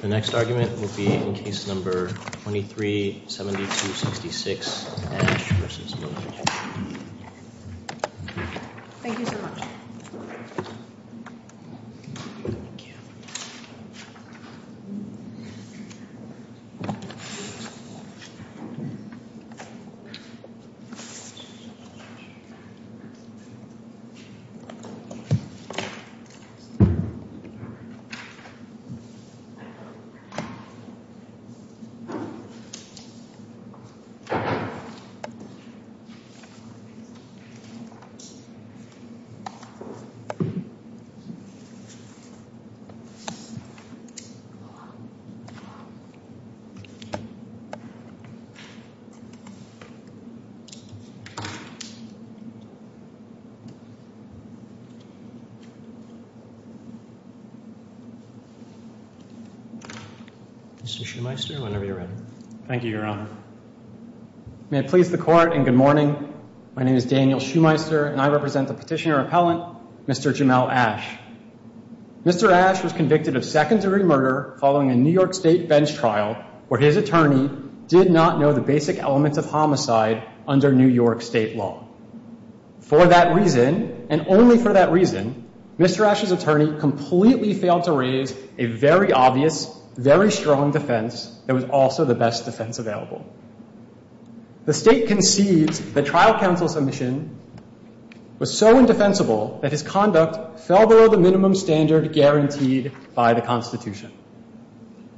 The next argument will be in case number 23-7266, Ash v. Miller. Thank you so much. Thank you. Mr. Shoemeister, whenever you're ready. Thank you, Your Honor. May it please the Court, and good morning. My name is Daniel Shoemeister, and I represent the petitioner appellant, Mr. Jamel Ash. Mr. Ash was convicted of secondary murder following a New York State bench trial where his attorney did not know the basic elements of homicide under New York State law. For that reason, and only for that reason, Mr. Ash's attorney completely failed to raise a very obvious, very strong defense that was also the best defense available. The State concedes that trial counsel's submission was so indefensible that his conduct fell below the minimum standard guaranteed by the Constitution.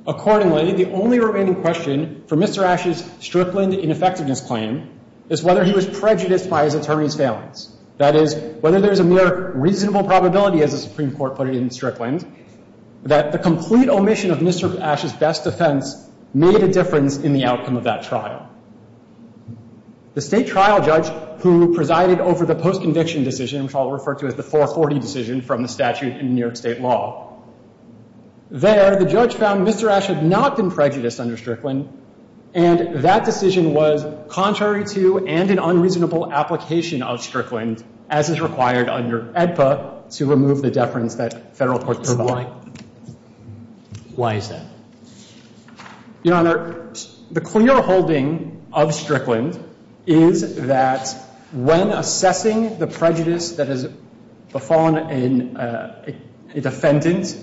Accordingly, the only remaining question for Mr. Ash's Strickland ineffectiveness claim is whether he was prejudiced by his attorney's failings. That is, whether there's a mere reasonable probability, as the Supreme Court put it in Strickland, that the complete omission of Mr. Ash's best defense made a difference in the outcome of that trial. The State trial judge who presided over the post-conviction decision, which I'll refer to as the 440 decision from the statute in New York State law, there, the judge found Mr. Ash had not been prejudiced under Strickland, and that decision was contrary to and an unreasonable application of Strickland, as is required under AEDPA to remove the deference that federal courts provide. But why? Why is that? Your Honor, the clear holding of Strickland is that when assessing the prejudice that has befallen a defendant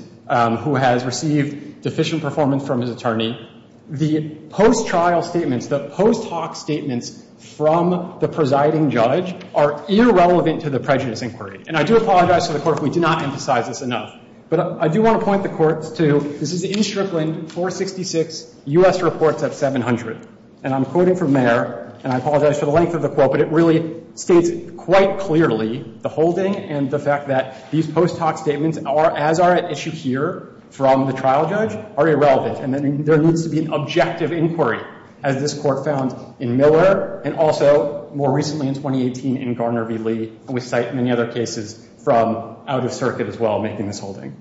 who has received deficient performance from his attorney, the post-trial statements, the post hoc statements from the presiding judge are irrelevant to the prejudice inquiry. And I do apologize to the Court if we did not emphasize this enough. But I do want to point the Court to, this is in Strickland, 466, U.S. Reports at 700. And I'm quoting from there, and I apologize for the length of the quote, but it really states quite clearly the holding and the fact that these post hoc statements are, as are at issue here from the trial judge, are irrelevant. And there needs to be an objective inquiry, as this Court found in Miller, and also more recently in 2018 in Garner v. Lee. And we cite many other cases from out of circuit as well making this holding.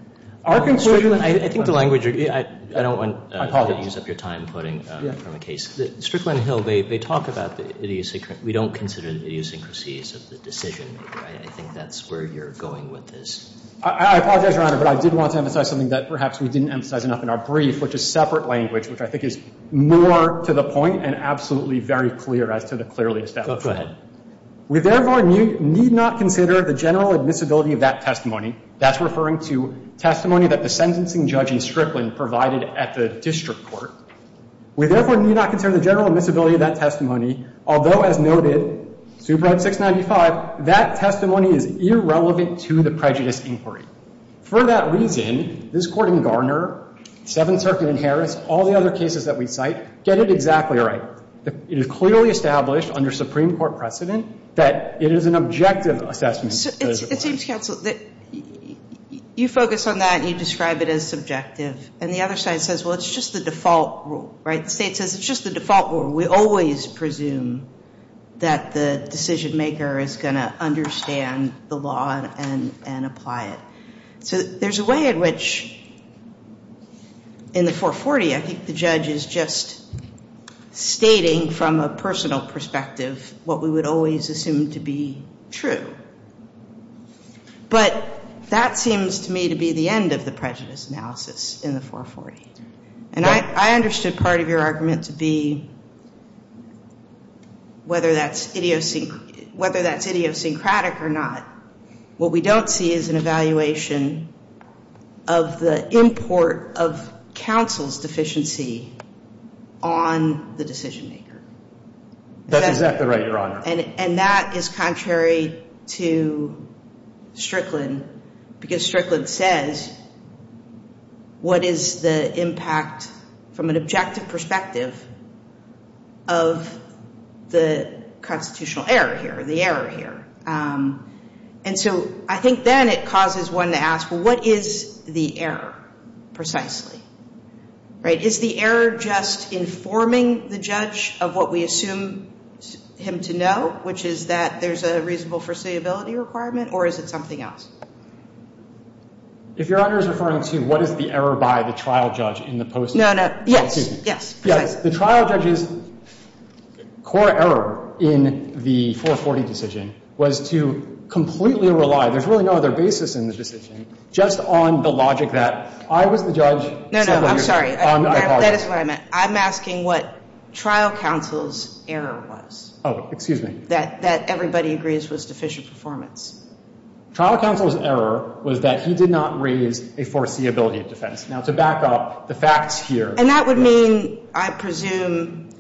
Our conclusion I think the language, I don't want to use up your time quoting from a case. Strickland and Hill, they talk about the idiosyncrasy. We don't consider the idiosyncrasies of the decision-maker. I think that's where you're going with this. I apologize, Your Honor, but I did want to emphasize something that perhaps we didn't emphasize enough in our brief, which is separate language, which I think is more to the point and absolutely very clear as to the clearest aspect. Go ahead. We therefore need not consider the general admissibility of that testimony. That's referring to testimony that the sentencing judge in Strickland provided at the district court. We therefore need not consider the general admissibility of that testimony, although, as noted, Superintendent 695, that testimony is irrelevant to the prejudice inquiry. For that reason, this court in Garner, 7th Circuit in Harris, all the other cases that we cite, get it exactly right. It is clearly established under Supreme Court precedent that it is an objective assessment. It seems, counsel, that you focus on that and you describe it as subjective. And the other side says, well, it's just the default rule, right? The State says it's just the default rule. We always presume that the decision maker is going to understand the law and apply it. So there's a way in which in the 440, I think the judge is just stating from a personal perspective what we would always assume to be true. But that seems to me to be the end of the prejudice analysis in the 440. And I understood part of your argument to be whether that's idiosyncratic or not. What we don't see is an evaluation of the import of counsel's deficiency on the decision maker. That's exactly right, Your Honor. And that is contrary to Strickland, because Strickland says, what is the impact from an objective perspective of the constitutional error here, the error here? And so I think then it causes one to ask, well, what is the error precisely? Right? Is the error just informing the judge of what we assume him to know, which is that there's a reasonable foreseeability requirement? Or is it something else? If Your Honor is referring to what is the error by the trial judge in the post? No, no. Yes. Yes. The trial judge's core error in the 440 decision was to completely rely, there's really no other basis in the decision, just on the logic that I was the judge. No, no. I'm sorry. That is what I meant. I'm asking what trial counsel's error was. Oh, excuse me. That everybody agrees was deficient performance. Trial counsel's error was that he did not raise a foreseeability defense. Now, to back up the facts here. And that would mean, I presume,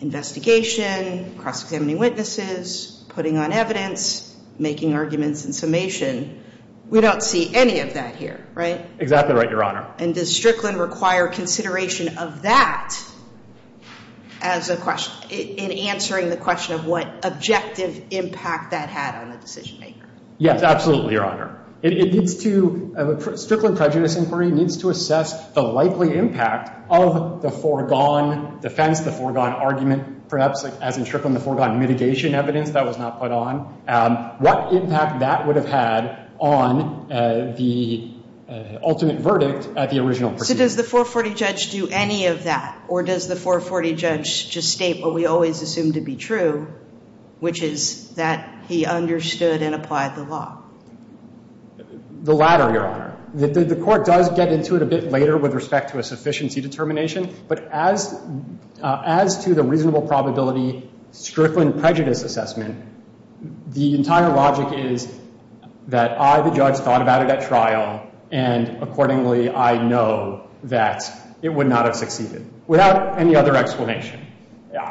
investigation, cross-examining witnesses, putting on evidence, making arguments in summation. We don't see any of that here, right? Exactly right, Your Honor. And does Strickland require consideration of that as a question, in answering the question of what objective impact that had on the decision maker? Yes, absolutely, Your Honor. It needs to, Strickland prejudice inquiry needs to assess the likely impact of the foregone defense, the foregone argument, perhaps, as in Strickland, the foregone mitigation evidence that was not put on. What impact that would have had on the ultimate verdict at the original proceeding? So does the 440 judge do any of that? Or does the 440 judge just state what we always assume to be true, which is that he understood and applied the law? The latter, Your Honor. The court does get into it a bit later with respect to a sufficiency determination. But as to the reasonable probability Strickland prejudice assessment, the entire logic is that I, the judge, thought about it at trial, and accordingly I know that it would not have succeeded, without any other explanation.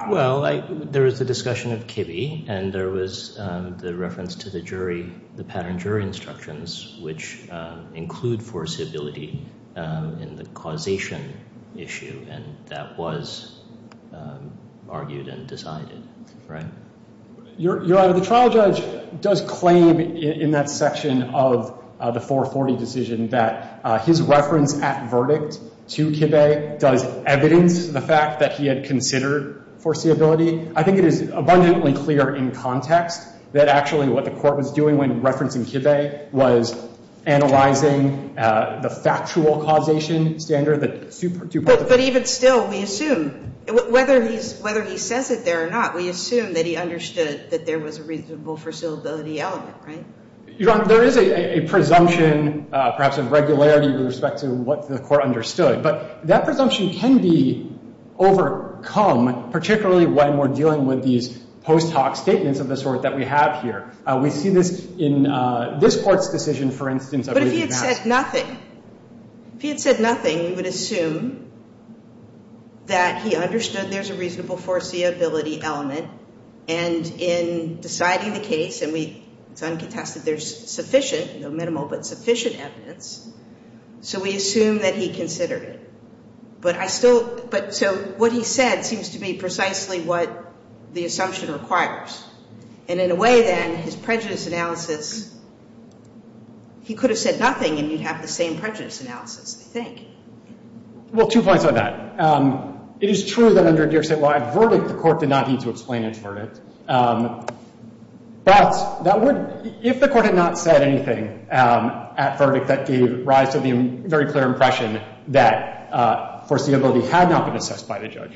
Well, there was the discussion of Kibbe, and there was the reference to the jury, the pattern jury instructions, which include foreseeability in the causation issue, and that was argued and decided, right? Your Honor, the trial judge does claim in that section of the 440 decision that his reference at verdict to Kibbe does evidence the fact that he had considered foreseeability. I think it is abundantly clear in context that actually what the court was doing when referencing Kibbe was analyzing the factual causation standard. But even still, we assume, whether he says it there or not, we assume that he understood that there was a reasonable foreseeability element, right? Your Honor, there is a presumption, perhaps of regularity, with respect to what the court understood. But that presumption can be overcome, particularly when we're dealing with these post hoc statements of the sort that we have here. We see this in this court's decision, for instance, I believe in advance. But if he had said nothing, if he had said nothing, we would assume that he understood there's a reasonable foreseeability element, and in deciding the case, and it's uncontested, there's sufficient, minimal, but sufficient evidence. So we assume that he considered it. But I still, but so what he said seems to be precisely what the assumption requires. And in a way, then, his prejudice analysis, he could have said nothing and you'd have the same prejudice analysis, I think. Well, two points on that. It is true that under Deer said, well, at verdict, the court did not need to explain its verdict. But that would, if the court had not said anything at verdict, that gave rise to the very clear impression that foreseeability had not been assessed by the judge.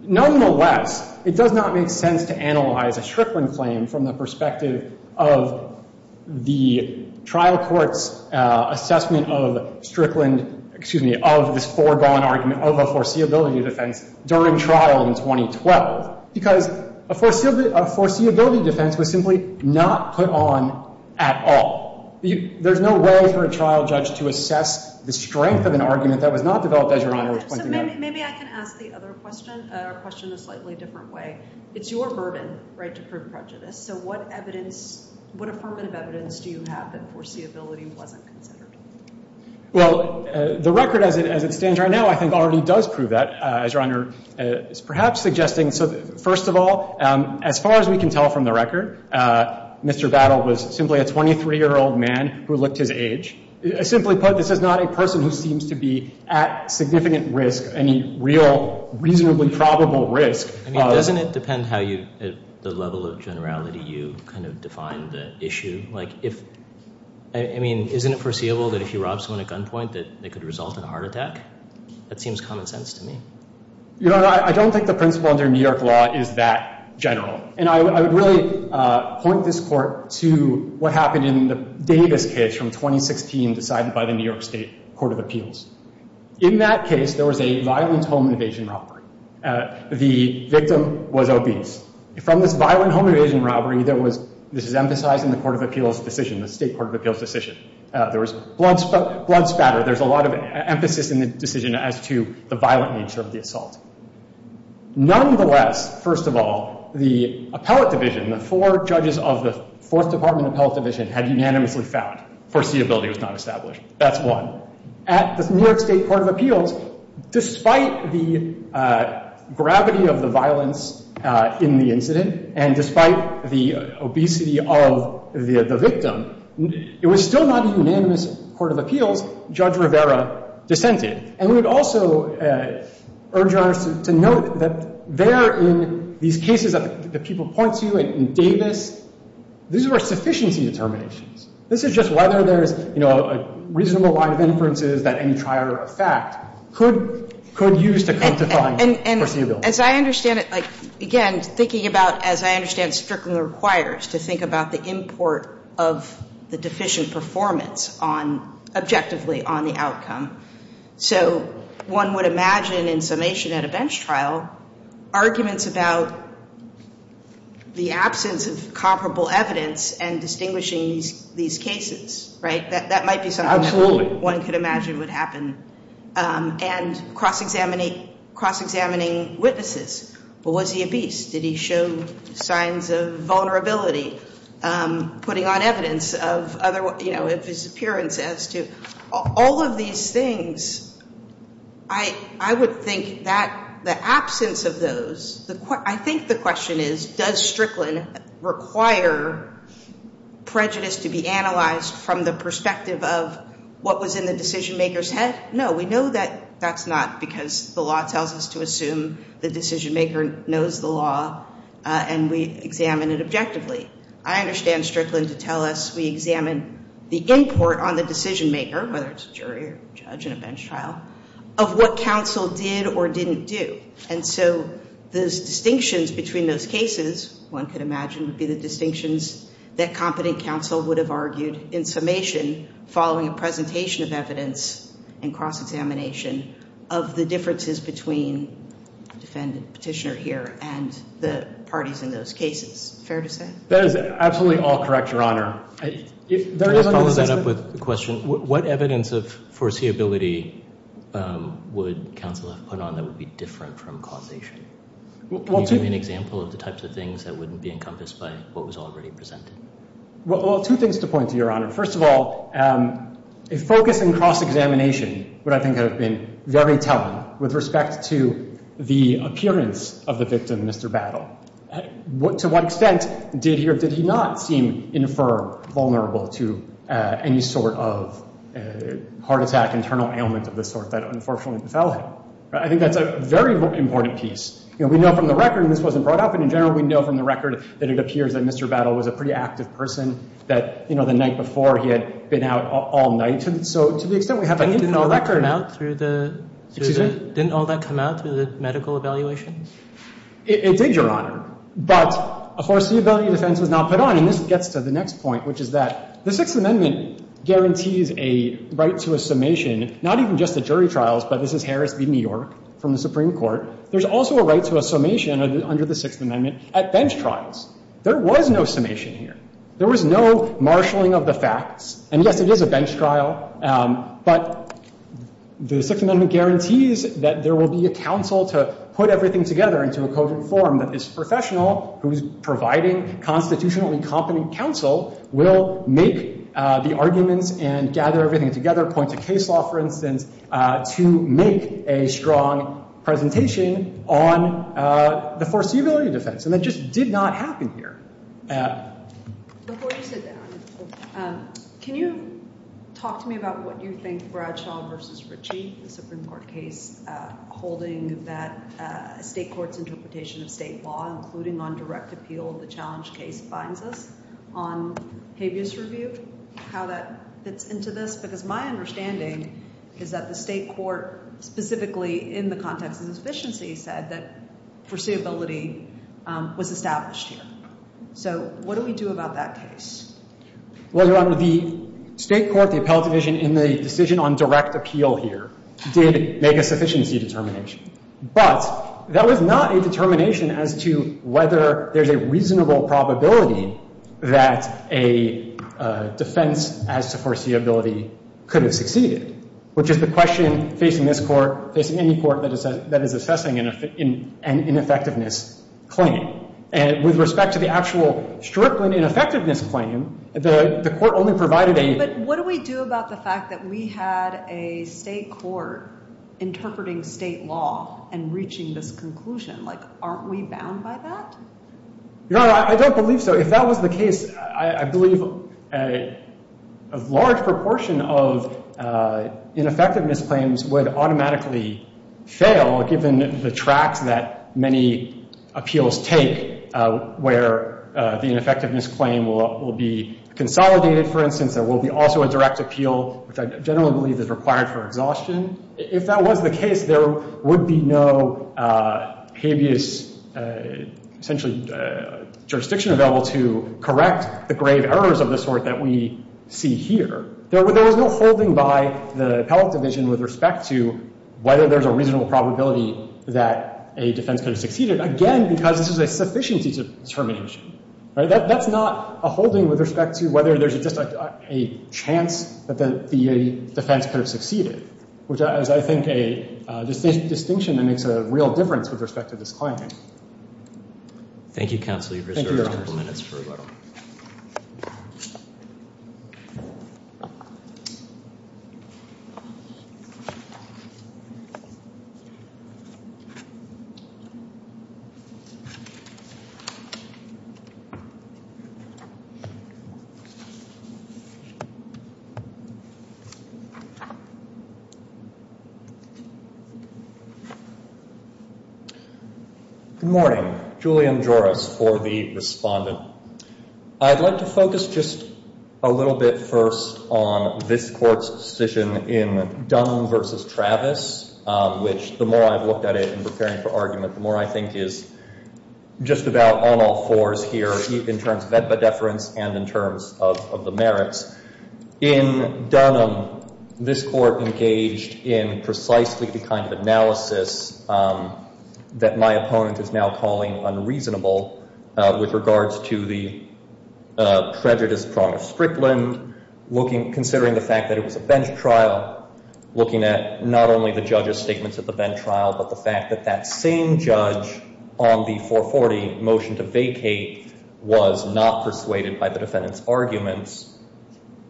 Nonetheless, it does not make sense to analyze a Strickland claim from the perspective of the trial court's assessment of Strickland, excuse me, of this foregone argument of a foreseeability defense during trial in 2012. Because a foreseeability defense was simply not put on at all. There's no way for a trial judge to assess the strength of an argument that was not developed as Your Honor was pointing out. So maybe I can ask the other question, a question in a slightly different way. It's your burden, right, to prove prejudice. So what evidence, what affirmative evidence do you have that foreseeability wasn't considered? Well, the record as it stands right now, I think, already does prove that, as Your Honor is perhaps suggesting. So first of all, as far as we can tell from the record, Mr. Battle was simply a 23-year-old man who looked his age. Simply put, this is not a person who seems to be at significant risk, any real reasonably probable risk. I mean, doesn't it depend how you, at the level of generality you kind of define the issue? Like if, I mean, isn't it foreseeable that if you rob someone at gunpoint that it could result in a heart attack? That seems common sense to me. Your Honor, I don't think the principle under New York law is that general. And I would really point this court to what happened in the Davis case from 2016 decided by the New York State Court of Appeals. In that case, there was a violent home invasion robbery. The victim was obese. From this violent home invasion robbery, this is emphasized in the Court of Appeals decision, the State Court of Appeals decision. There was blood spatter. There's a lot of emphasis in the decision as to the violent nature of the assault. Nonetheless, first of all, the appellate division, the four judges of the Fourth Department appellate division had unanimously found foreseeability was not established. That's one. At the New York State Court of Appeals, despite the gravity of the violence in the incident and despite the obesity of the victim, it was still not a unanimous Court of Appeals judge Rivera dissented. And we would also urge Your Honor to note that there in these cases that the people point to in Davis, these were sufficiency determinations. This is just whether there's, you know, a reasonable line of inferences that any trier of fact could use to come to find foreseeability. And as I understand it, like, again, thinking about, as I understand, strictly requires to think about the import of the deficient performance on, objectively on the outcome. So one would imagine in summation at a bench trial, arguments about the absence of comparable evidence and distinguishing these cases, right? That might be something that one could imagine would happen. And cross-examining witnesses. Was he obese? Did he show signs of vulnerability? Putting on evidence of, you know, of his appearance as to all of these things. I would think that the absence of those, I think the question is, does Strickland require prejudice to be analyzed from the perspective of what was in the decision maker's head? No, we know that that's not because the law tells us to assume the decision maker knows the law and we examine it objectively. I understand Strickland to tell us we examine the import on the decision maker, whether it's a jury or judge in a bench trial, of what counsel did or didn't do. And so those distinctions between those cases, one could imagine, would be the distinctions that competent counsel would have argued in summation following a presentation of evidence and cross-examination of the differences between the defendant petitioner here and the parties in those cases. Fair to say? That is absolutely all correct, Your Honor. Can I follow that up with a question? What evidence of foreseeability would counsel have put on that would be different from causation? Can you give me an example of the types of things that wouldn't be encompassed by what was already presented? Well, two things to point to, Your Honor. First of all, a focus in cross-examination would, I think, have been very telling with respect to the appearance of the victim, Mr. Battle. To what extent did he or did he not seem infirm, vulnerable to any sort of heart attack, internal ailment of the sort that unfortunately befell him? I think that's a very important piece. You know, we know from the record, and this wasn't brought up, but in general we know from the record that it appears that Mr. Battle was a pretty active person that, you know, the night before he had been out all night. So to the extent we have an info record. Didn't all that come out through the medical evaluation? It did, Your Honor. But a foreseeability defense was not put on. And this gets to the next point, which is that the Sixth Amendment guarantees a right to a summation, not even just at jury trials, but this is Harris v. New York from the Supreme Court. There's also a right to a summation under the Sixth Amendment at bench trials. There was no summation here. There was no marshalling of the facts. And, yes, it is a bench trial. But the Sixth Amendment guarantees that there will be a counsel to put everything together into a cogent form that this professional who is providing constitutionally competent counsel will make the arguments and gather everything together, point to case law, for instance, to make a strong presentation on the foreseeability defense. And that just did not happen here. Before you sit down, can you talk to me about what you think Bradshaw v. Ritchie, the Supreme Court case, holding that a state court's interpretation of state law, including on direct appeal, the challenge case, binds us on habeas review, how that fits into this? Because my understanding is that the state court, specifically in the context of sufficiency, said that foreseeability was established here. So what do we do about that case? Well, Your Honor, the state court, the appellate division, in the decision on direct appeal here did make a sufficiency determination. But that was not a determination as to whether there's a reasonable probability that a defense as to foreseeability could have succeeded, which is the question facing this Court, facing any Court that is assessing an ineffectiveness claim. And with respect to the actual Strickland ineffectiveness claim, the Court only provided a- But what do we do about the fact that we had a state court interpreting state law and reaching this conclusion? Like, aren't we bound by that? Your Honor, I don't believe so. If that was the case, I believe a large proportion of ineffectiveness claims would automatically fail, given the tracks that many appeals take, where the ineffectiveness claim will be consolidated, for instance. There will be also a direct appeal, which I generally believe is required for exhaustion. If that was the case, there would be no habeas, essentially, jurisdiction available to correct the grave errors of the sort that we see here. There was no holding by the appellate division with respect to whether there's a reasonable probability that a defense could have succeeded, again, because this is a sufficiency determination. That's not a holding with respect to whether there's just a chance that the defense could have succeeded, which is, I think, a distinction that makes a real difference with respect to this claim. Thank you, counsel. You've reserved a couple minutes for rebuttal. Good morning. Julian Joris for the respondent. I'd like to focus just a little bit first on this Court's decision in Dunham v. Travis, which the more I've looked at it in preparing for argument, the more I think is just about on all fours here, in terms of ed-ba-deference and in terms of the merits. In Dunham, this Court engaged in precisely the kind of analysis that my opponent is now calling unreasonable with regards to the prejudice prong of Strickland, considering the fact that it was a bench trial, looking at not only the judge's statements at the bench trial, but the fact that that same judge on the 440 motion to vacate was not persuaded by the defendant's arguments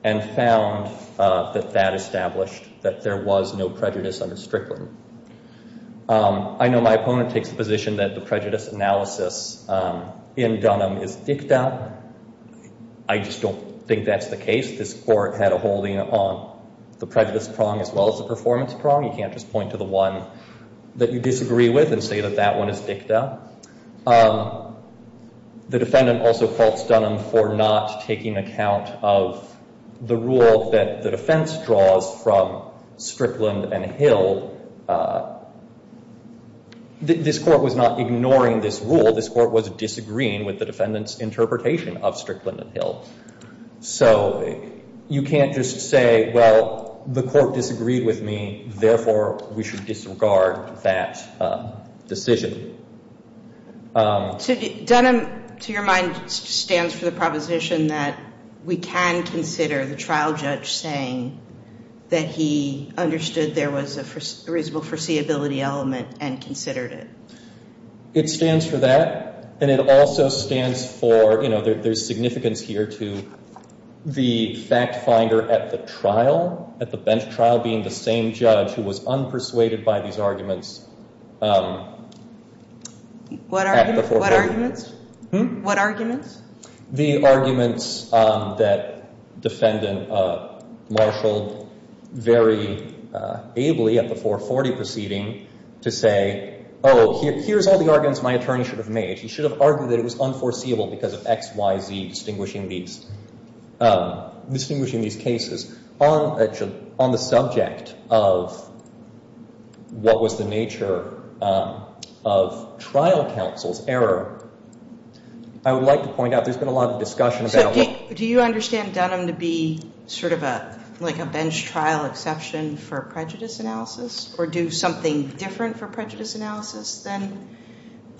and found that that established that there was no prejudice under Strickland. I know my opponent takes the position that the prejudice analysis in Dunham is dicta. I just don't think that's the case. This Court had a holding on the prejudice prong as well as the performance prong. You can't just point to the one that you disagree with and say that that one is dicta. The defendant also faults Dunham for not taking account of the rule that the defense draws from Strickland and Hill. This Court was not ignoring this rule. This Court was disagreeing with the defendant's interpretation of Strickland and Hill. So you can't just say, well, the Court disagreed with me, therefore we should disregard that decision. Dunham, to your mind, stands for the proposition that we can consider the trial judge saying that he understood there was a reasonable foreseeability element and considered it. It stands for that. And it also stands for, you know, there's significance here to the fact finder at the trial, at the bench trial being the same judge who was unpersuaded by these arguments at the 440. What arguments? The arguments that defendant marshaled very ably at the 440 proceeding to say, oh, here's all the arguments my attorney should have made. He should have argued that it was unforeseeable because of X, Y, Z, distinguishing these cases. On the subject of what was the nature of trial counsel's error, I would like to point out, there's been a lot of discussion about what the nature of trial counsel's error was. So do you understand Dunham to be sort of like a bench trial exception for prejudice analysis or do something different for prejudice analysis than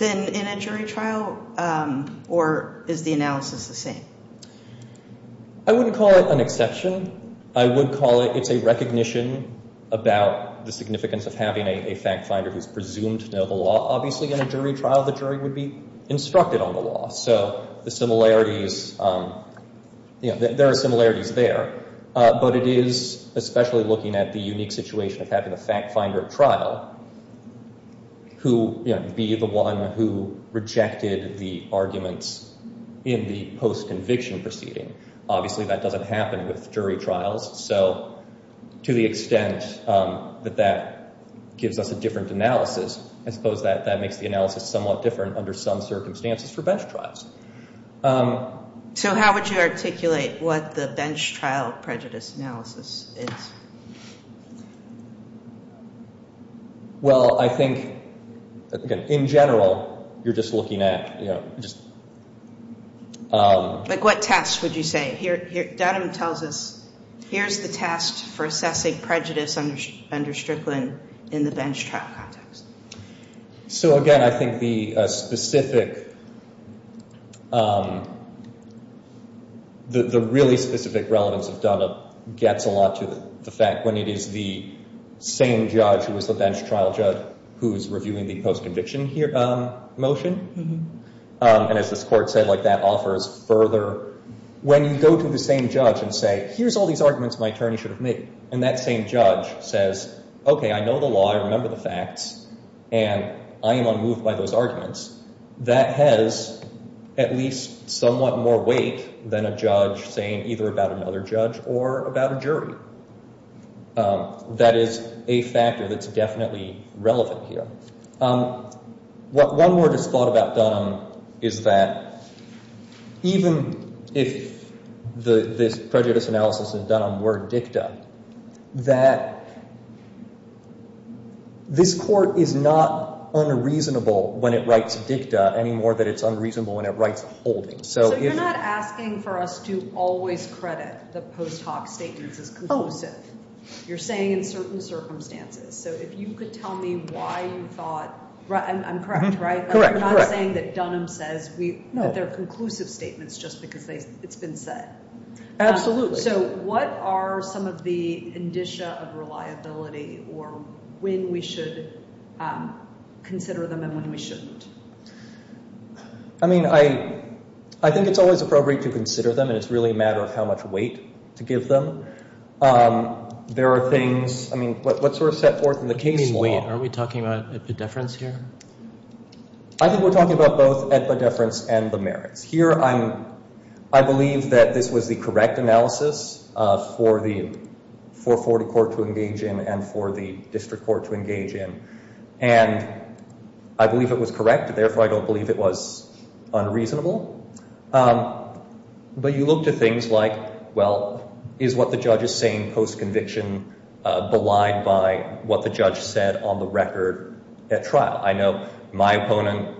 in a jury trial? Or is the analysis the same? I wouldn't call it an exception. I would call it, it's a recognition about the significance of having a fact finder who's presumed to know the law. Obviously, in a jury trial, the jury would be instructed on the law. So the similarities, you know, there are similarities there. But it is especially looking at the unique situation of having a fact finder at trial who, you know, be the one who rejected the arguments in the post-conviction proceeding. Obviously, that doesn't happen with jury trials. So to the extent that that gives us a different analysis, I suppose that that makes the analysis somewhat different under some circumstances for bench trials. So how would you articulate what the bench trial prejudice analysis is? Well, I think, again, in general, you're just looking at, you know, just... Like what test would you say? Dunham tells us, here's the test for assessing prejudice under Strickland in the bench trial context. So, again, I think the specific, the really specific relevance of Dunham gets a lot to the fact when it is the same judge who is the bench trial judge who is reviewing the post-conviction motion. And as this court said, like that offers further... When you go to the same judge and say, here's all these arguments my attorney should have made, and that same judge says, okay, I know the law, I remember the facts, and I am unmoved by those arguments, that has at least somewhat more weight than a judge saying either about another judge or about a jury. That is a factor that's definitely relevant here. One word that's thought about Dunham is that even if this prejudice analysis is done on word dicta, that this court is not unreasonable when it writes dicta any more than it's unreasonable when it writes holding. So you're not asking for us to always credit the post hoc statements as conclusive. You're saying in certain circumstances. So if you could tell me why you thought... I'm correct, right? You're not saying that Dunham says that they're conclusive statements just because it's been said. Absolutely. So what are some of the indicia of reliability or when we should consider them and when we shouldn't? I mean, I think it's always appropriate to consider them, and it's really a matter of how much weight to give them. There are things... I mean, what sort of set forth in the case law... You mean weight? Are we talking about epidefference here? I think we're talking about both epidefference and the merits. Here, I believe that this was the correct analysis for the 440 court to engage in and for the district court to engage in. And I believe it was correct. Therefore, I don't believe it was unreasonable. But you look to things like, well, is what the judge is saying post-conviction belied by what the judge said on the record at trial? I know my opponent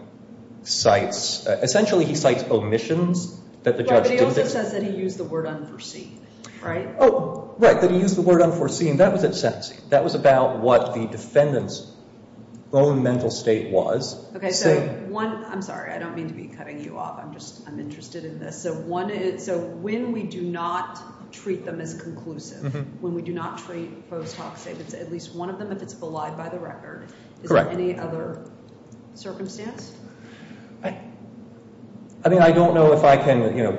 cites... Essentially, he cites omissions that the judge didn't... But he also says that he used the word unforeseen, right? Oh, right, that he used the word unforeseen. That was at sentencing. That was about what the defendant's own mental state was. Okay, so one... I'm sorry. I don't mean to be cutting you off. I'm just... I'm interested in this. So when we do not treat them as conclusive, when we do not treat post hoc statements, at least one of them, if it's belied by the record... Correct. Are there any other circumstances? I mean, I don't know if I can, you know,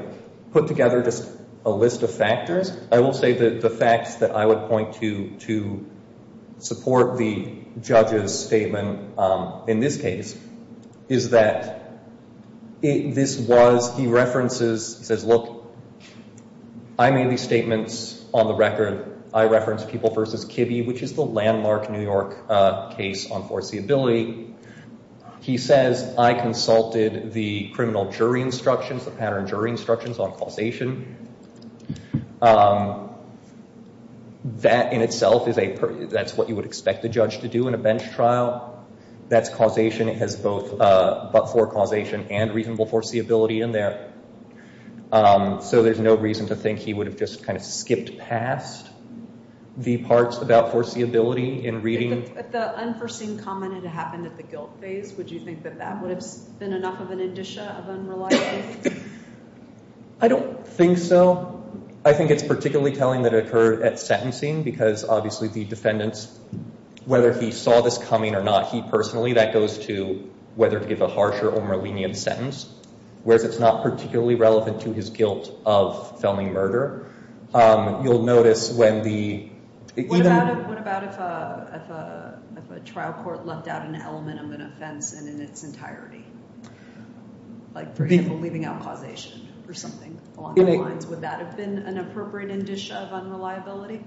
put together just a list of factors. I will say that the facts that I would point to to support the judge's statement in this case is that this was... He references... He says, look, I made these statements on the record. I referenced People v. Kibbe, which is the landmark New York case on foreseeability. He says, I consulted the criminal jury instructions, the pattern jury instructions on causation. That in itself is a... That's what you would expect the judge to do in a bench trial. That's causation. It has both but-for causation and reasonable foreseeability in there. So there's no reason to think he would have just kind of skipped past the parts about foreseeability in reading. If the unforeseen comment had happened at the guilt phase, would you think that that would have been enough of an indicia of unreliability? I don't think so. I think it's particularly telling that it occurred at sentencing because obviously the defendants, whether he saw this coming or not, he personally, that goes to whether to give a harsher or more lenient sentence, whereas it's not particularly relevant to his guilt of felony murder. You'll notice when the... What about if a trial court left out an element of an offense in its entirety? Like, for example, leaving out causation or something along those lines. Would that have been an appropriate indicia of unreliability?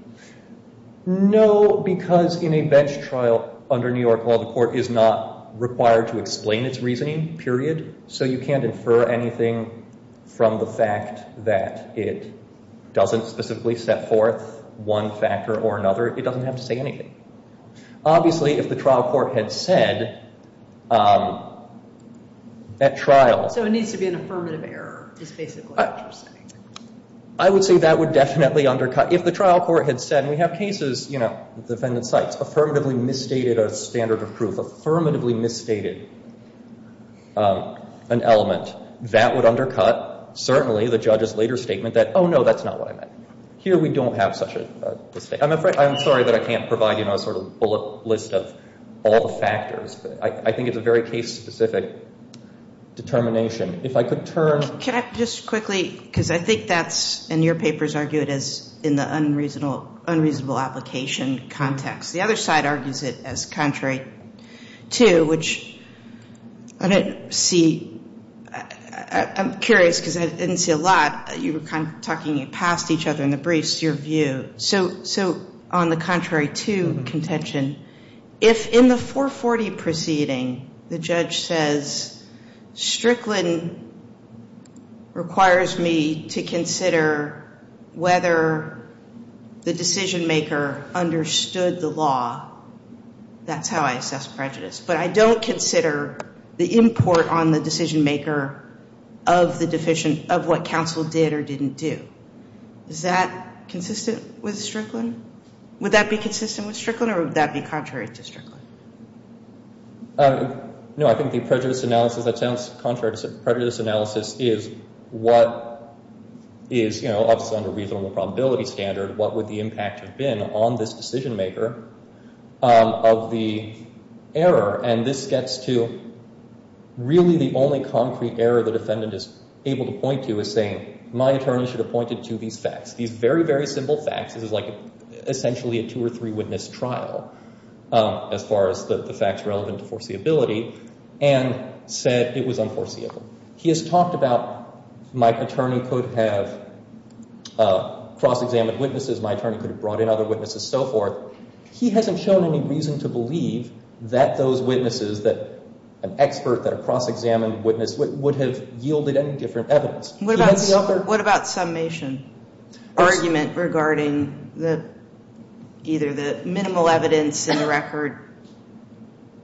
No, because in a bench trial under New York law, the court is not required to explain its reasoning, period. So you can't infer anything from the fact that it doesn't specifically set forth one factor or another. It doesn't have to say anything. Obviously, if the trial court had said at trial... So it needs to be an affirmative error is basically what you're saying. I would say that would definitely undercut... If the trial court had said, and we have cases, you know, defendant cites affirmatively misstated a standard of proof, affirmatively misstated an element, that would undercut certainly the judge's later statement that, oh, no, that's not what I meant. Here we don't have such a... I'm sorry that I can't provide you a sort of bullet list of all the factors. I think it's a very case-specific determination. If I could turn... Can I just quickly, because I think that's... And your papers argue it as in the unreasonable application context. The other side argues it as contrary to, which I don't see... I'm curious, because I didn't see a lot. You were kind of talking past each other in the briefs, your view. So on the contrary to contention, if in the 440 proceeding the judge says, Strickland requires me to consider whether the decision-maker understood the law, that's how I assess prejudice. But I don't consider the import on the decision-maker of what counsel did or didn't do. Is that consistent with Strickland? Would that be consistent with Strickland or would that be contrary to Strickland? No, I think the prejudice analysis, that sounds contrary to Strickland. Prejudice analysis is what is, you know, obviously under a reasonable probability standard, what would the impact have been on this decision-maker of the error. And this gets to really the only concrete error the defendant is able to point to is saying, my attorney should have pointed to these facts, these very, very simple facts. This is like essentially a two or three witness trial as far as the facts relevant to foreseeability, and said it was unforeseeable. He has talked about my attorney could have cross-examined witnesses, my attorney could have brought in other witnesses, so forth. He hasn't shown any reason to believe that those witnesses, that an expert, that a cross-examined witness would have yielded any different evidence. What about summation? Argument regarding either the minimal evidence in the record,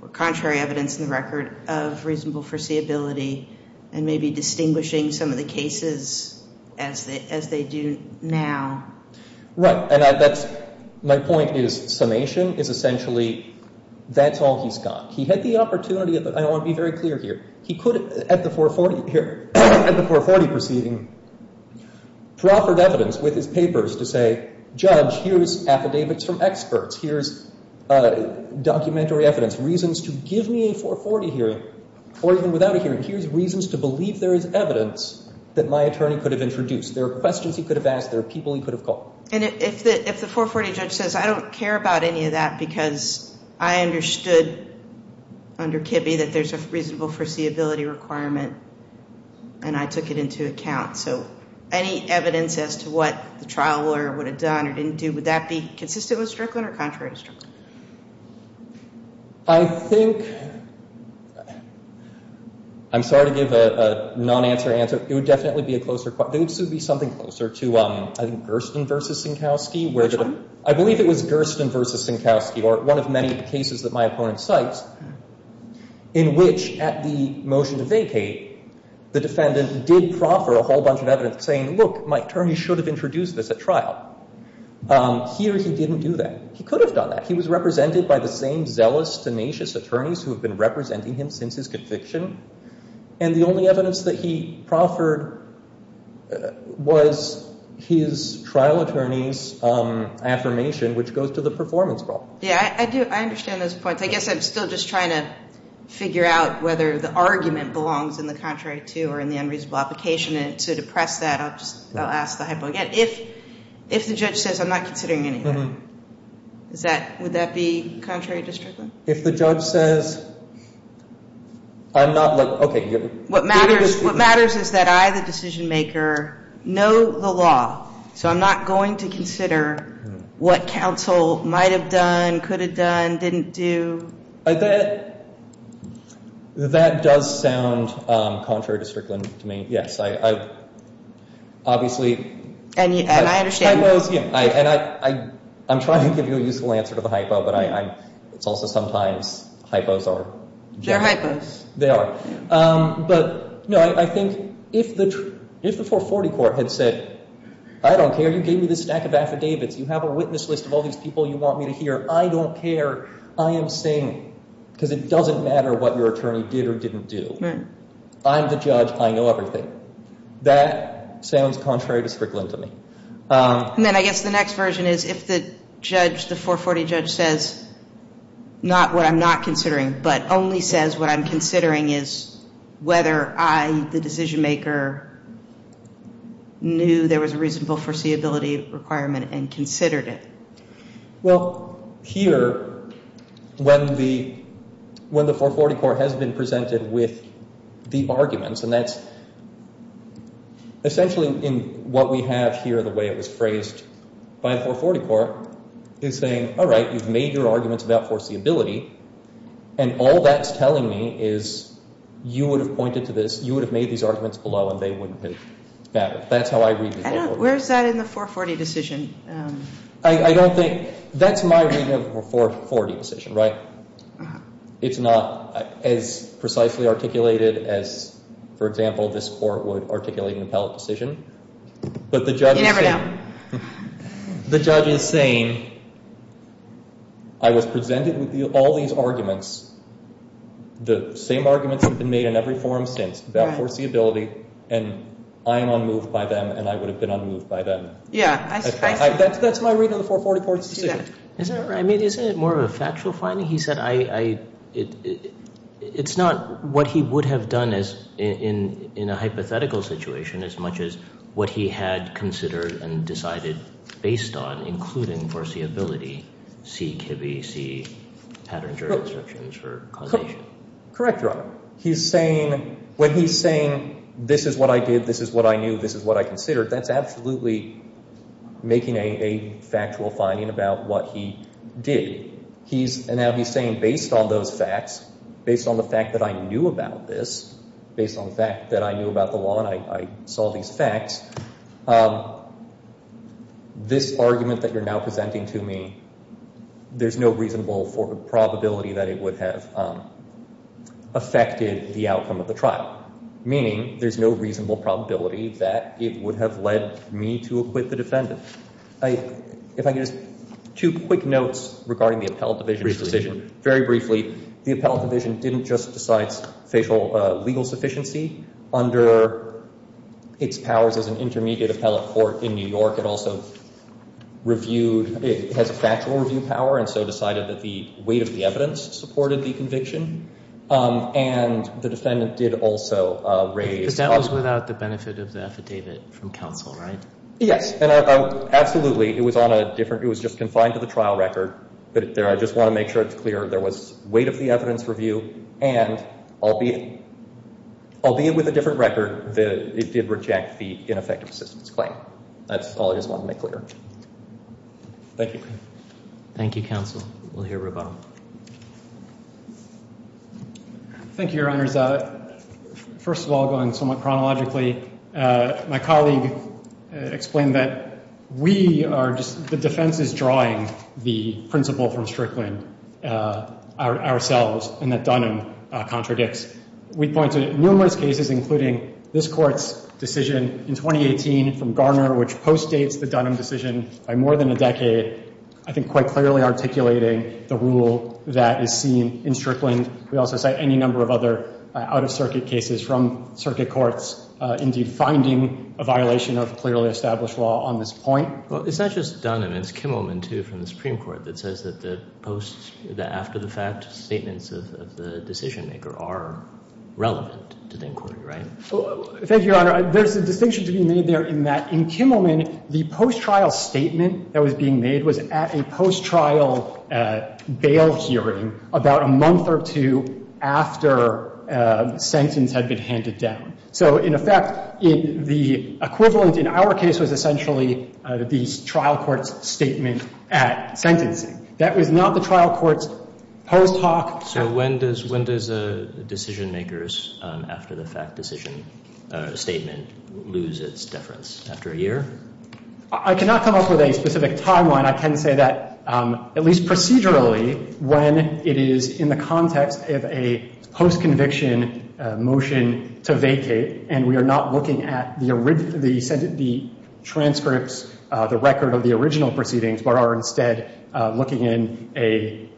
or contrary evidence in the record of reasonable foreseeability, and maybe distinguishing some of the cases as they do now. Right, and that's, my point is summation is essentially, that's all he's got. He had the opportunity, I want to be very clear here, he could, at the 440 proceeding, proffer evidence with his papers to say, judge, here's affidavits from experts, here's documentary evidence, reasons to give me a 440 hearing, or even without a hearing, here's reasons to believe there is evidence that my attorney could have introduced. There are questions he could have asked, there are people he could have called. And if the 440 judge says, I don't care about any of that, because I understood under Kibbe that there's a reasonable foreseeability requirement, and I took it into account. So any evidence as to what the trial lawyer would have done or didn't do, would that be consistent with Strickland or contrary to Strickland? I think, I'm sorry to give a non-answer answer, it would definitely be a closer, it would be something closer to, I think, Gersten v. Sinkowski. Which one? I believe it was Gersten v. Sinkowski, or one of many cases that my opponent cites, in which, at the motion to vacate, the defendant did proffer a whole bunch of evidence saying, look, my attorney should have introduced this at trial. Here he didn't do that. He could have done that. He was represented by the same zealous, tenacious attorneys who have been representing him since his conviction. And the only evidence that he proffered was his trial attorney's affirmation, which goes to the performance problem. Yeah, I understand those points. I guess I'm still just trying to figure out whether the argument belongs in the contrary to or in the unreasonable application, and to depress that, I'll ask the hypo again. If the judge says, I'm not considering any of that, would that be contrary to Strickland? If the judge says, I'm not, like, okay. What matters is that I, the decision maker, know the law, so I'm not going to consider what counsel might have done, could have done, didn't do. That does sound contrary to Strickland to me, yes. Obviously, hypos, yeah, and I'm trying to give you a useful answer to the hypo, but it's also sometimes hypos are. They're hypos. They are. But, no, I think if the 440 court had said, I don't care, you gave me this stack of affidavits, you have a witness list of all these people you want me to hear, I don't care. I am saying, because it doesn't matter what your attorney did or didn't do. I'm the judge. I know everything. That sounds contrary to Strickland to me. And then I guess the next version is if the judge, the 440 judge, says not what I'm not considering but only says what I'm considering is whether I, the decision maker, knew there was a reasonable foreseeability requirement and considered it. Well, here, when the 440 court has been presented with the arguments, and that's essentially what we have here, the way it was phrased by the 440 court, is saying, all right, you've made your arguments about foreseeability, and all that's telling me is you would have pointed to this, you would have made these arguments below, and they wouldn't have mattered. That's how I read the 440. Where's that in the 440 decision? I don't think. That's my reading of the 440 decision, right? It's not as precisely articulated as, for example, this court would articulate in an appellate decision. You never know. But the judge is saying, I was presented with all these arguments. The same arguments have been made in every forum since about foreseeability, and I am unmoved by them, and I would have been unmoved by them. Yeah. That's my reading of the 440 court's decision. Isn't it more of a factual finding? He said it's not what he would have done in a hypothetical situation as much as what he had considered and decided based on, including foreseeability, C, Kibbe, C, Patterns, Jurisdictions for causation. Correct, Your Honor. He's saying, when he's saying this is what I did, this is what I knew, this is what I considered, that's absolutely making a factual finding about what he did. And now he's saying, based on those facts, based on the fact that I knew about this, based on the fact that I knew about the law and I saw these facts, this argument that you're now presenting to me, there's no reasonable probability that it would have affected the outcome of the trial, meaning there's no reasonable probability that it would have led me to acquit the defendant. If I could just, two quick notes regarding the appellate division's decision. Very briefly, the appellate division didn't just decide facial legal sufficiency under its powers as an intermediate appellate court in New York. It also reviewed, it has a factual review power, and so decided that the weight of the evidence supported the conviction. And the defendant did also raise... Because that was without the benefit of the affidavit from counsel, right? Yes, absolutely. It was on a different, it was just confined to the trial record, but I just want to make sure it's clear there was weight of the evidence review, and albeit with a different record, that it did reject the ineffective assistance claim. That's all I just wanted to make clear. Thank you. Thank you, counsel. We'll hear from him. Thank you, Your Honors. First of all, going somewhat chronologically, my colleague explained that we are just, the defense is drawing the principle from Strickland ourselves, and that Dunham contradicts. We point to numerous cases, including this Court's decision in 2018 from Garner, which postdates the Dunham decision by more than a decade, I think quite clearly articulating the rule that is seen in Strickland. We also cite any number of other out-of-circuit cases from circuit courts, indeed finding a violation of clearly established law on this point. Well, it's not just Dunham. It's Kimmelman, too, from the Supreme Court that says that the post, the after-the-fact statements of the decision-maker are relevant to the inquiry, right? Thank you, Your Honor. There's a distinction to be made there in that in Kimmelman, the post-trial statement that was being made was at a post-trial bail hearing about a month or two after a sentence had been handed down. So, in effect, the equivalent in our case was essentially the trial court's statement at sentencing. That was not the trial court's post hoc. So when does a decision-maker's after-the-fact decision statement lose its deference? After a year? I cannot come up with a specific timeline. And I can say that, at least procedurally, when it is in the context of a post-conviction motion to vacate, and we are not looking at the transcripts, the record of the original proceedings, but are instead looking in a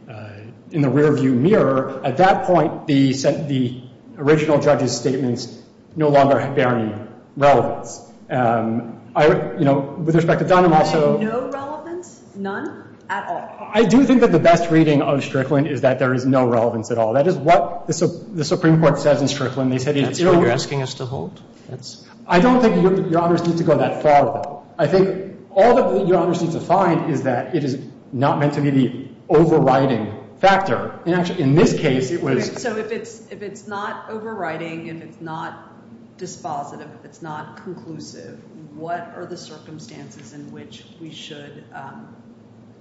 rear-view mirror, at that point the original judge's statements no longer have any relevance. With respect to Dunham also — No relevance? None at all? I do think that the best reading of Strickland is that there is no relevance at all. That is what the Supreme Court says in Strickland. That's what you're asking us to hold? I don't think your honors need to go that far. I think all that your honors need to find is that it is not meant to be the overriding factor. In this case, it was — So if it's not overriding and it's not dispositive, if it's not conclusive, what are the circumstances in which we should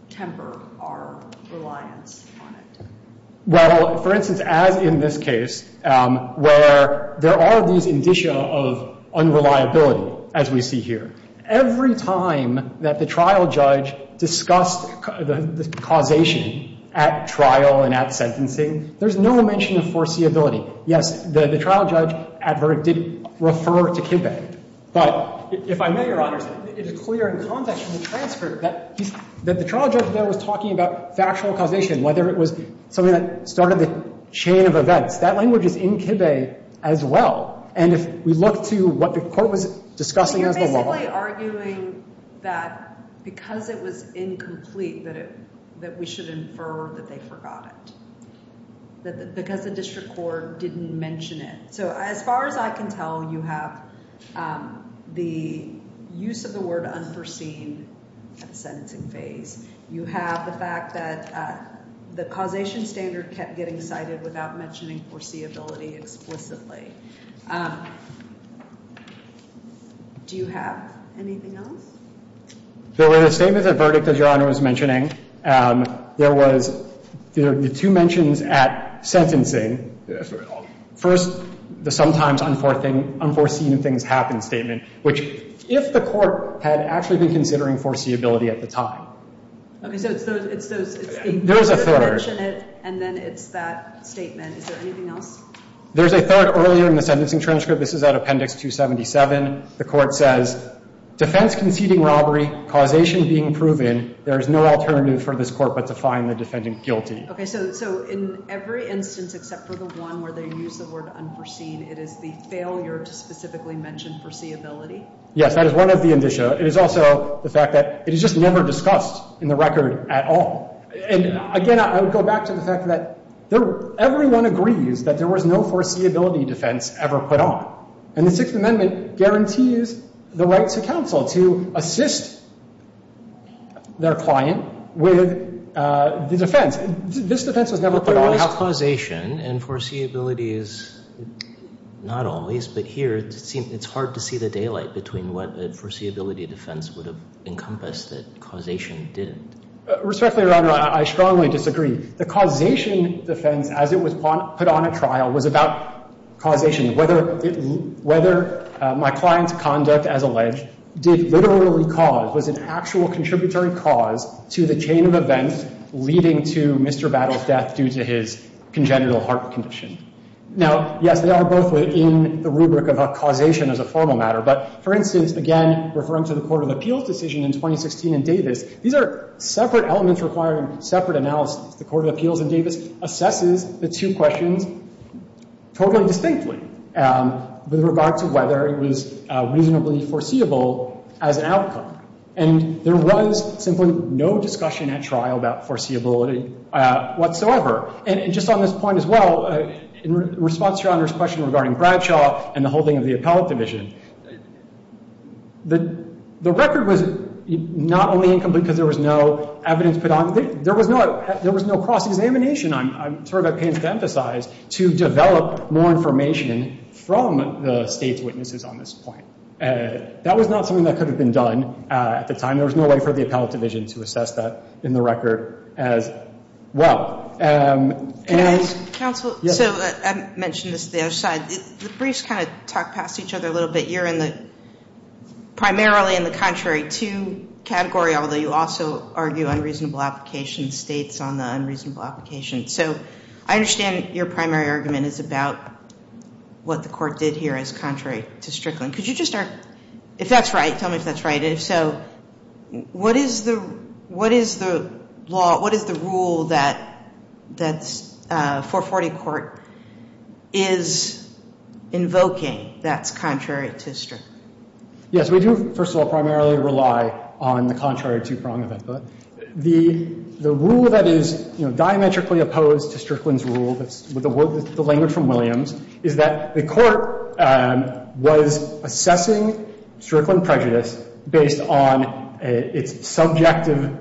temper our reliance on it? Well, for instance, as in this case, where there are these indicia of unreliability, as we see here, every time that the trial judge discussed the causation at trial and at sentencing, there's no mention of foreseeability. Yes, the trial judge adverted — referred to Kibbe. But if I may, your honors, it is clear in the context of the transfer that the trial judge there was talking about factual causation, whether it was something that started the chain of events. That language is in Kibbe as well. And if we look to what the court was discussing as the law — But you're basically arguing that because it was incomplete, that we should infer that they forgot it. That because the district court didn't mention it. So as far as I can tell, you have the use of the word unforeseen at the sentencing phase. You have the fact that the causation standard kept getting cited without mentioning foreseeability explicitly. Do you have anything else? So in the statement, the verdict, as your honor was mentioning, there was — there are two mentions at sentencing. First, the sometimes unforeseen things happen statement, which if the court had actually been considering foreseeability at the time. Okay. So it's those — There's a third. And then it's that statement. Is there anything else? There's a third earlier in the sentencing transcript. This is at Appendix 277. The court says, defense conceding robbery, causation being proven, there is no alternative for this court but to find the defendant guilty. So in every instance except for the one where they use the word unforeseen, it is the failure to specifically mention foreseeability? Yes. That is one of the indicia. It is also the fact that it is just never discussed in the record at all. And again, I would go back to the fact that everyone agrees that there was no foreseeability defense ever put on. And the Sixth Amendment guarantees the right to counsel to assist their client with the defense. This defense was never put on. But the law has causation, and foreseeability is not always. But here, it's hard to see the daylight between what a foreseeability defense would have encompassed that causation didn't. Respectfully, Your Honor, I strongly disagree. The causation defense, as it was put on at trial, was about causation, whether my client's conduct, as alleged, did literally cause, was an actual contributory cause to the chain of events leading to Mr. Battle's death due to his congenital heart condition. Now, yes, they are both within the rubric of a causation as a formal matter. But for instance, again, referring to the Court of Appeals decision in 2016 in Davis, these are separate elements requiring separate analysis. The Court of Appeals in Davis assesses the two questions totally distinctly with regard to whether it was reasonably foreseeable as an outcome. And there was simply no discussion at trial about foreseeability whatsoever. And just on this point as well, in response to Your Honor's question regarding Bradshaw and the holding of the appellate division, the record was not only incomplete simply because there was no evidence put on it. There was no cross-examination, I'm sorry if I can't emphasize, to develop more information from the State's witnesses on this point. That was not something that could have been done at the time. There was no way for the appellate division to assess that in the record as well. Counsel, so I mentioned this to the other side. The briefs kind of talk past each other a little bit. You're primarily in the contrary to category, although you also argue unreasonable application states on the unreasonable application. So I understand your primary argument is about what the court did here as contrary to Strickland. Could you just start? If that's right, tell me if that's right. Okay, so what is the law, what is the rule that 440 Court is invoking that's contrary to Strickland? Yes, we do, first of all, primarily rely on the contrary to prong of input. The rule that is diametrically opposed to Strickland's rule, the language from Williams, is that the court was assessing Strickland prejudice based on its subjective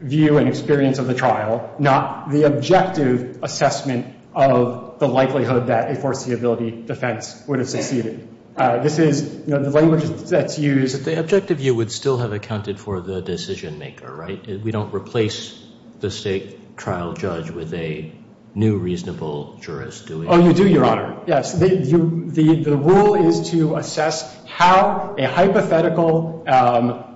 view and experience of the trial, not the objective assessment of the likelihood that a foreseeability defense would have succeeded. This is the language that's used. The objective view would still have accounted for the decision maker, right? We don't replace the State trial judge with a new reasonable jurist, do we? Oh, you do, Your Honor, yes. The rule is to assess how a hypothetical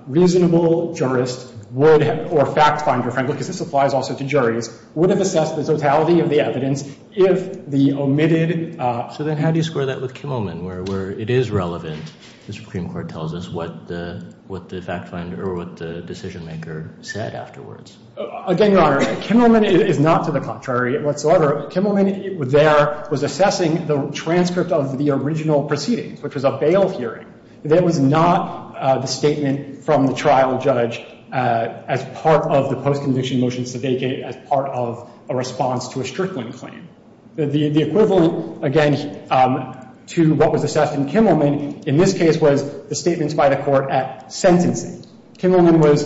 reasonable jurist would, or fact finder, frankly, because this applies also to juries, would have assessed the totality of the evidence if the omitted. So then how do you square that with Kimmelman, where it is relevant, the Supreme Court tells us what the fact finder or what the decision maker said afterwards? Again, Your Honor, Kimmelman is not to the contrary whatsoever. Kimmelman there was assessing the transcript of the original proceedings, which was a bail hearing. That was not the statement from the trial judge as part of the post-conviction motion sedate case, as part of a response to a Strickland claim. The equivalent, again, to what was assessed in Kimmelman in this case was the statements by the court at sentencing. Kimmelman was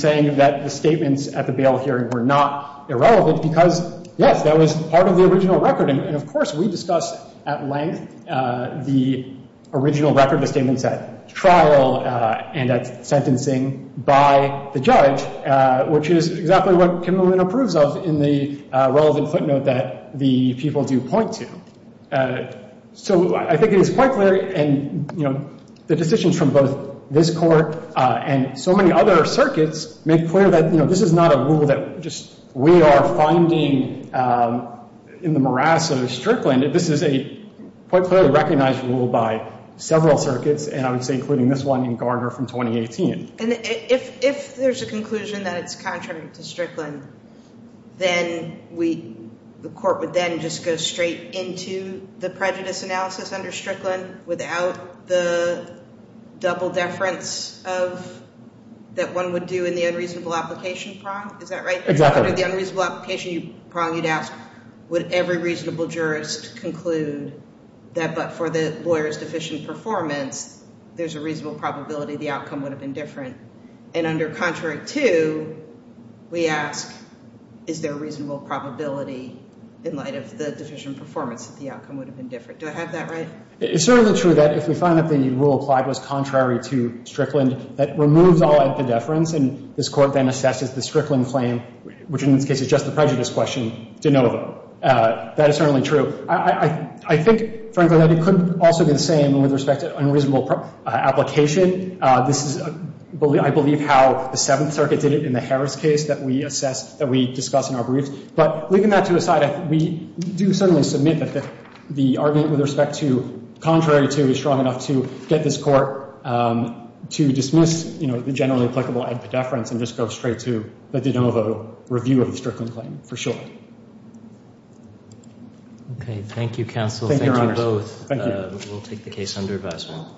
saying that the statements at the bail hearing were not irrelevant because, yes, that was part of the original record. And, of course, we discussed at length the original record of statements at trial and at sentencing by the judge, which is exactly what Kimmelman approves of in the relevant footnote that the people do point to. So I think it is quite clear, and, you know, the decisions from both this court and so many other circuits make clear that, you know, this is not a rule that just we are finding in the morass of Strickland. This is a quite clearly recognized rule by several circuits, and I would say including this one in Gardner from 2018. And if there is a conclusion that it is contrary to Strickland, then the court would then just go straight into the prejudice analysis under Strickland without the double deference that one would do in the unreasonable application prong. Is that right? Exactly. Under the unreasonable application prong, you would ask would every reasonable jurist conclude that but for the lawyer's deficient performance, there is a reasonable probability the outcome would have been different. And under contrary to, we ask is there a reasonable probability in light of the deficient performance that the outcome would have been different. Do I have that right? It is certainly true that if we find that the rule applied was contrary to Strickland, that removes all epidefference and this court then assesses the Strickland claim, which in this case is just the prejudice question, de novo. That is certainly true. I think, frankly, that it could also be the same with respect to unreasonable application. This is, I believe, how the Seventh Circuit did it in the Harris case that we assess, that we discuss in our briefs. But leaving that to a side, we do certainly submit that the argument with respect to contrary to is strong enough to get this court to dismiss, you know, the generally applicable epidefference and just go straight to the de novo review of the Strickland claim for sure. Thank you. Okay. Thank you, counsel. Thank you both. We'll take the case under advisement.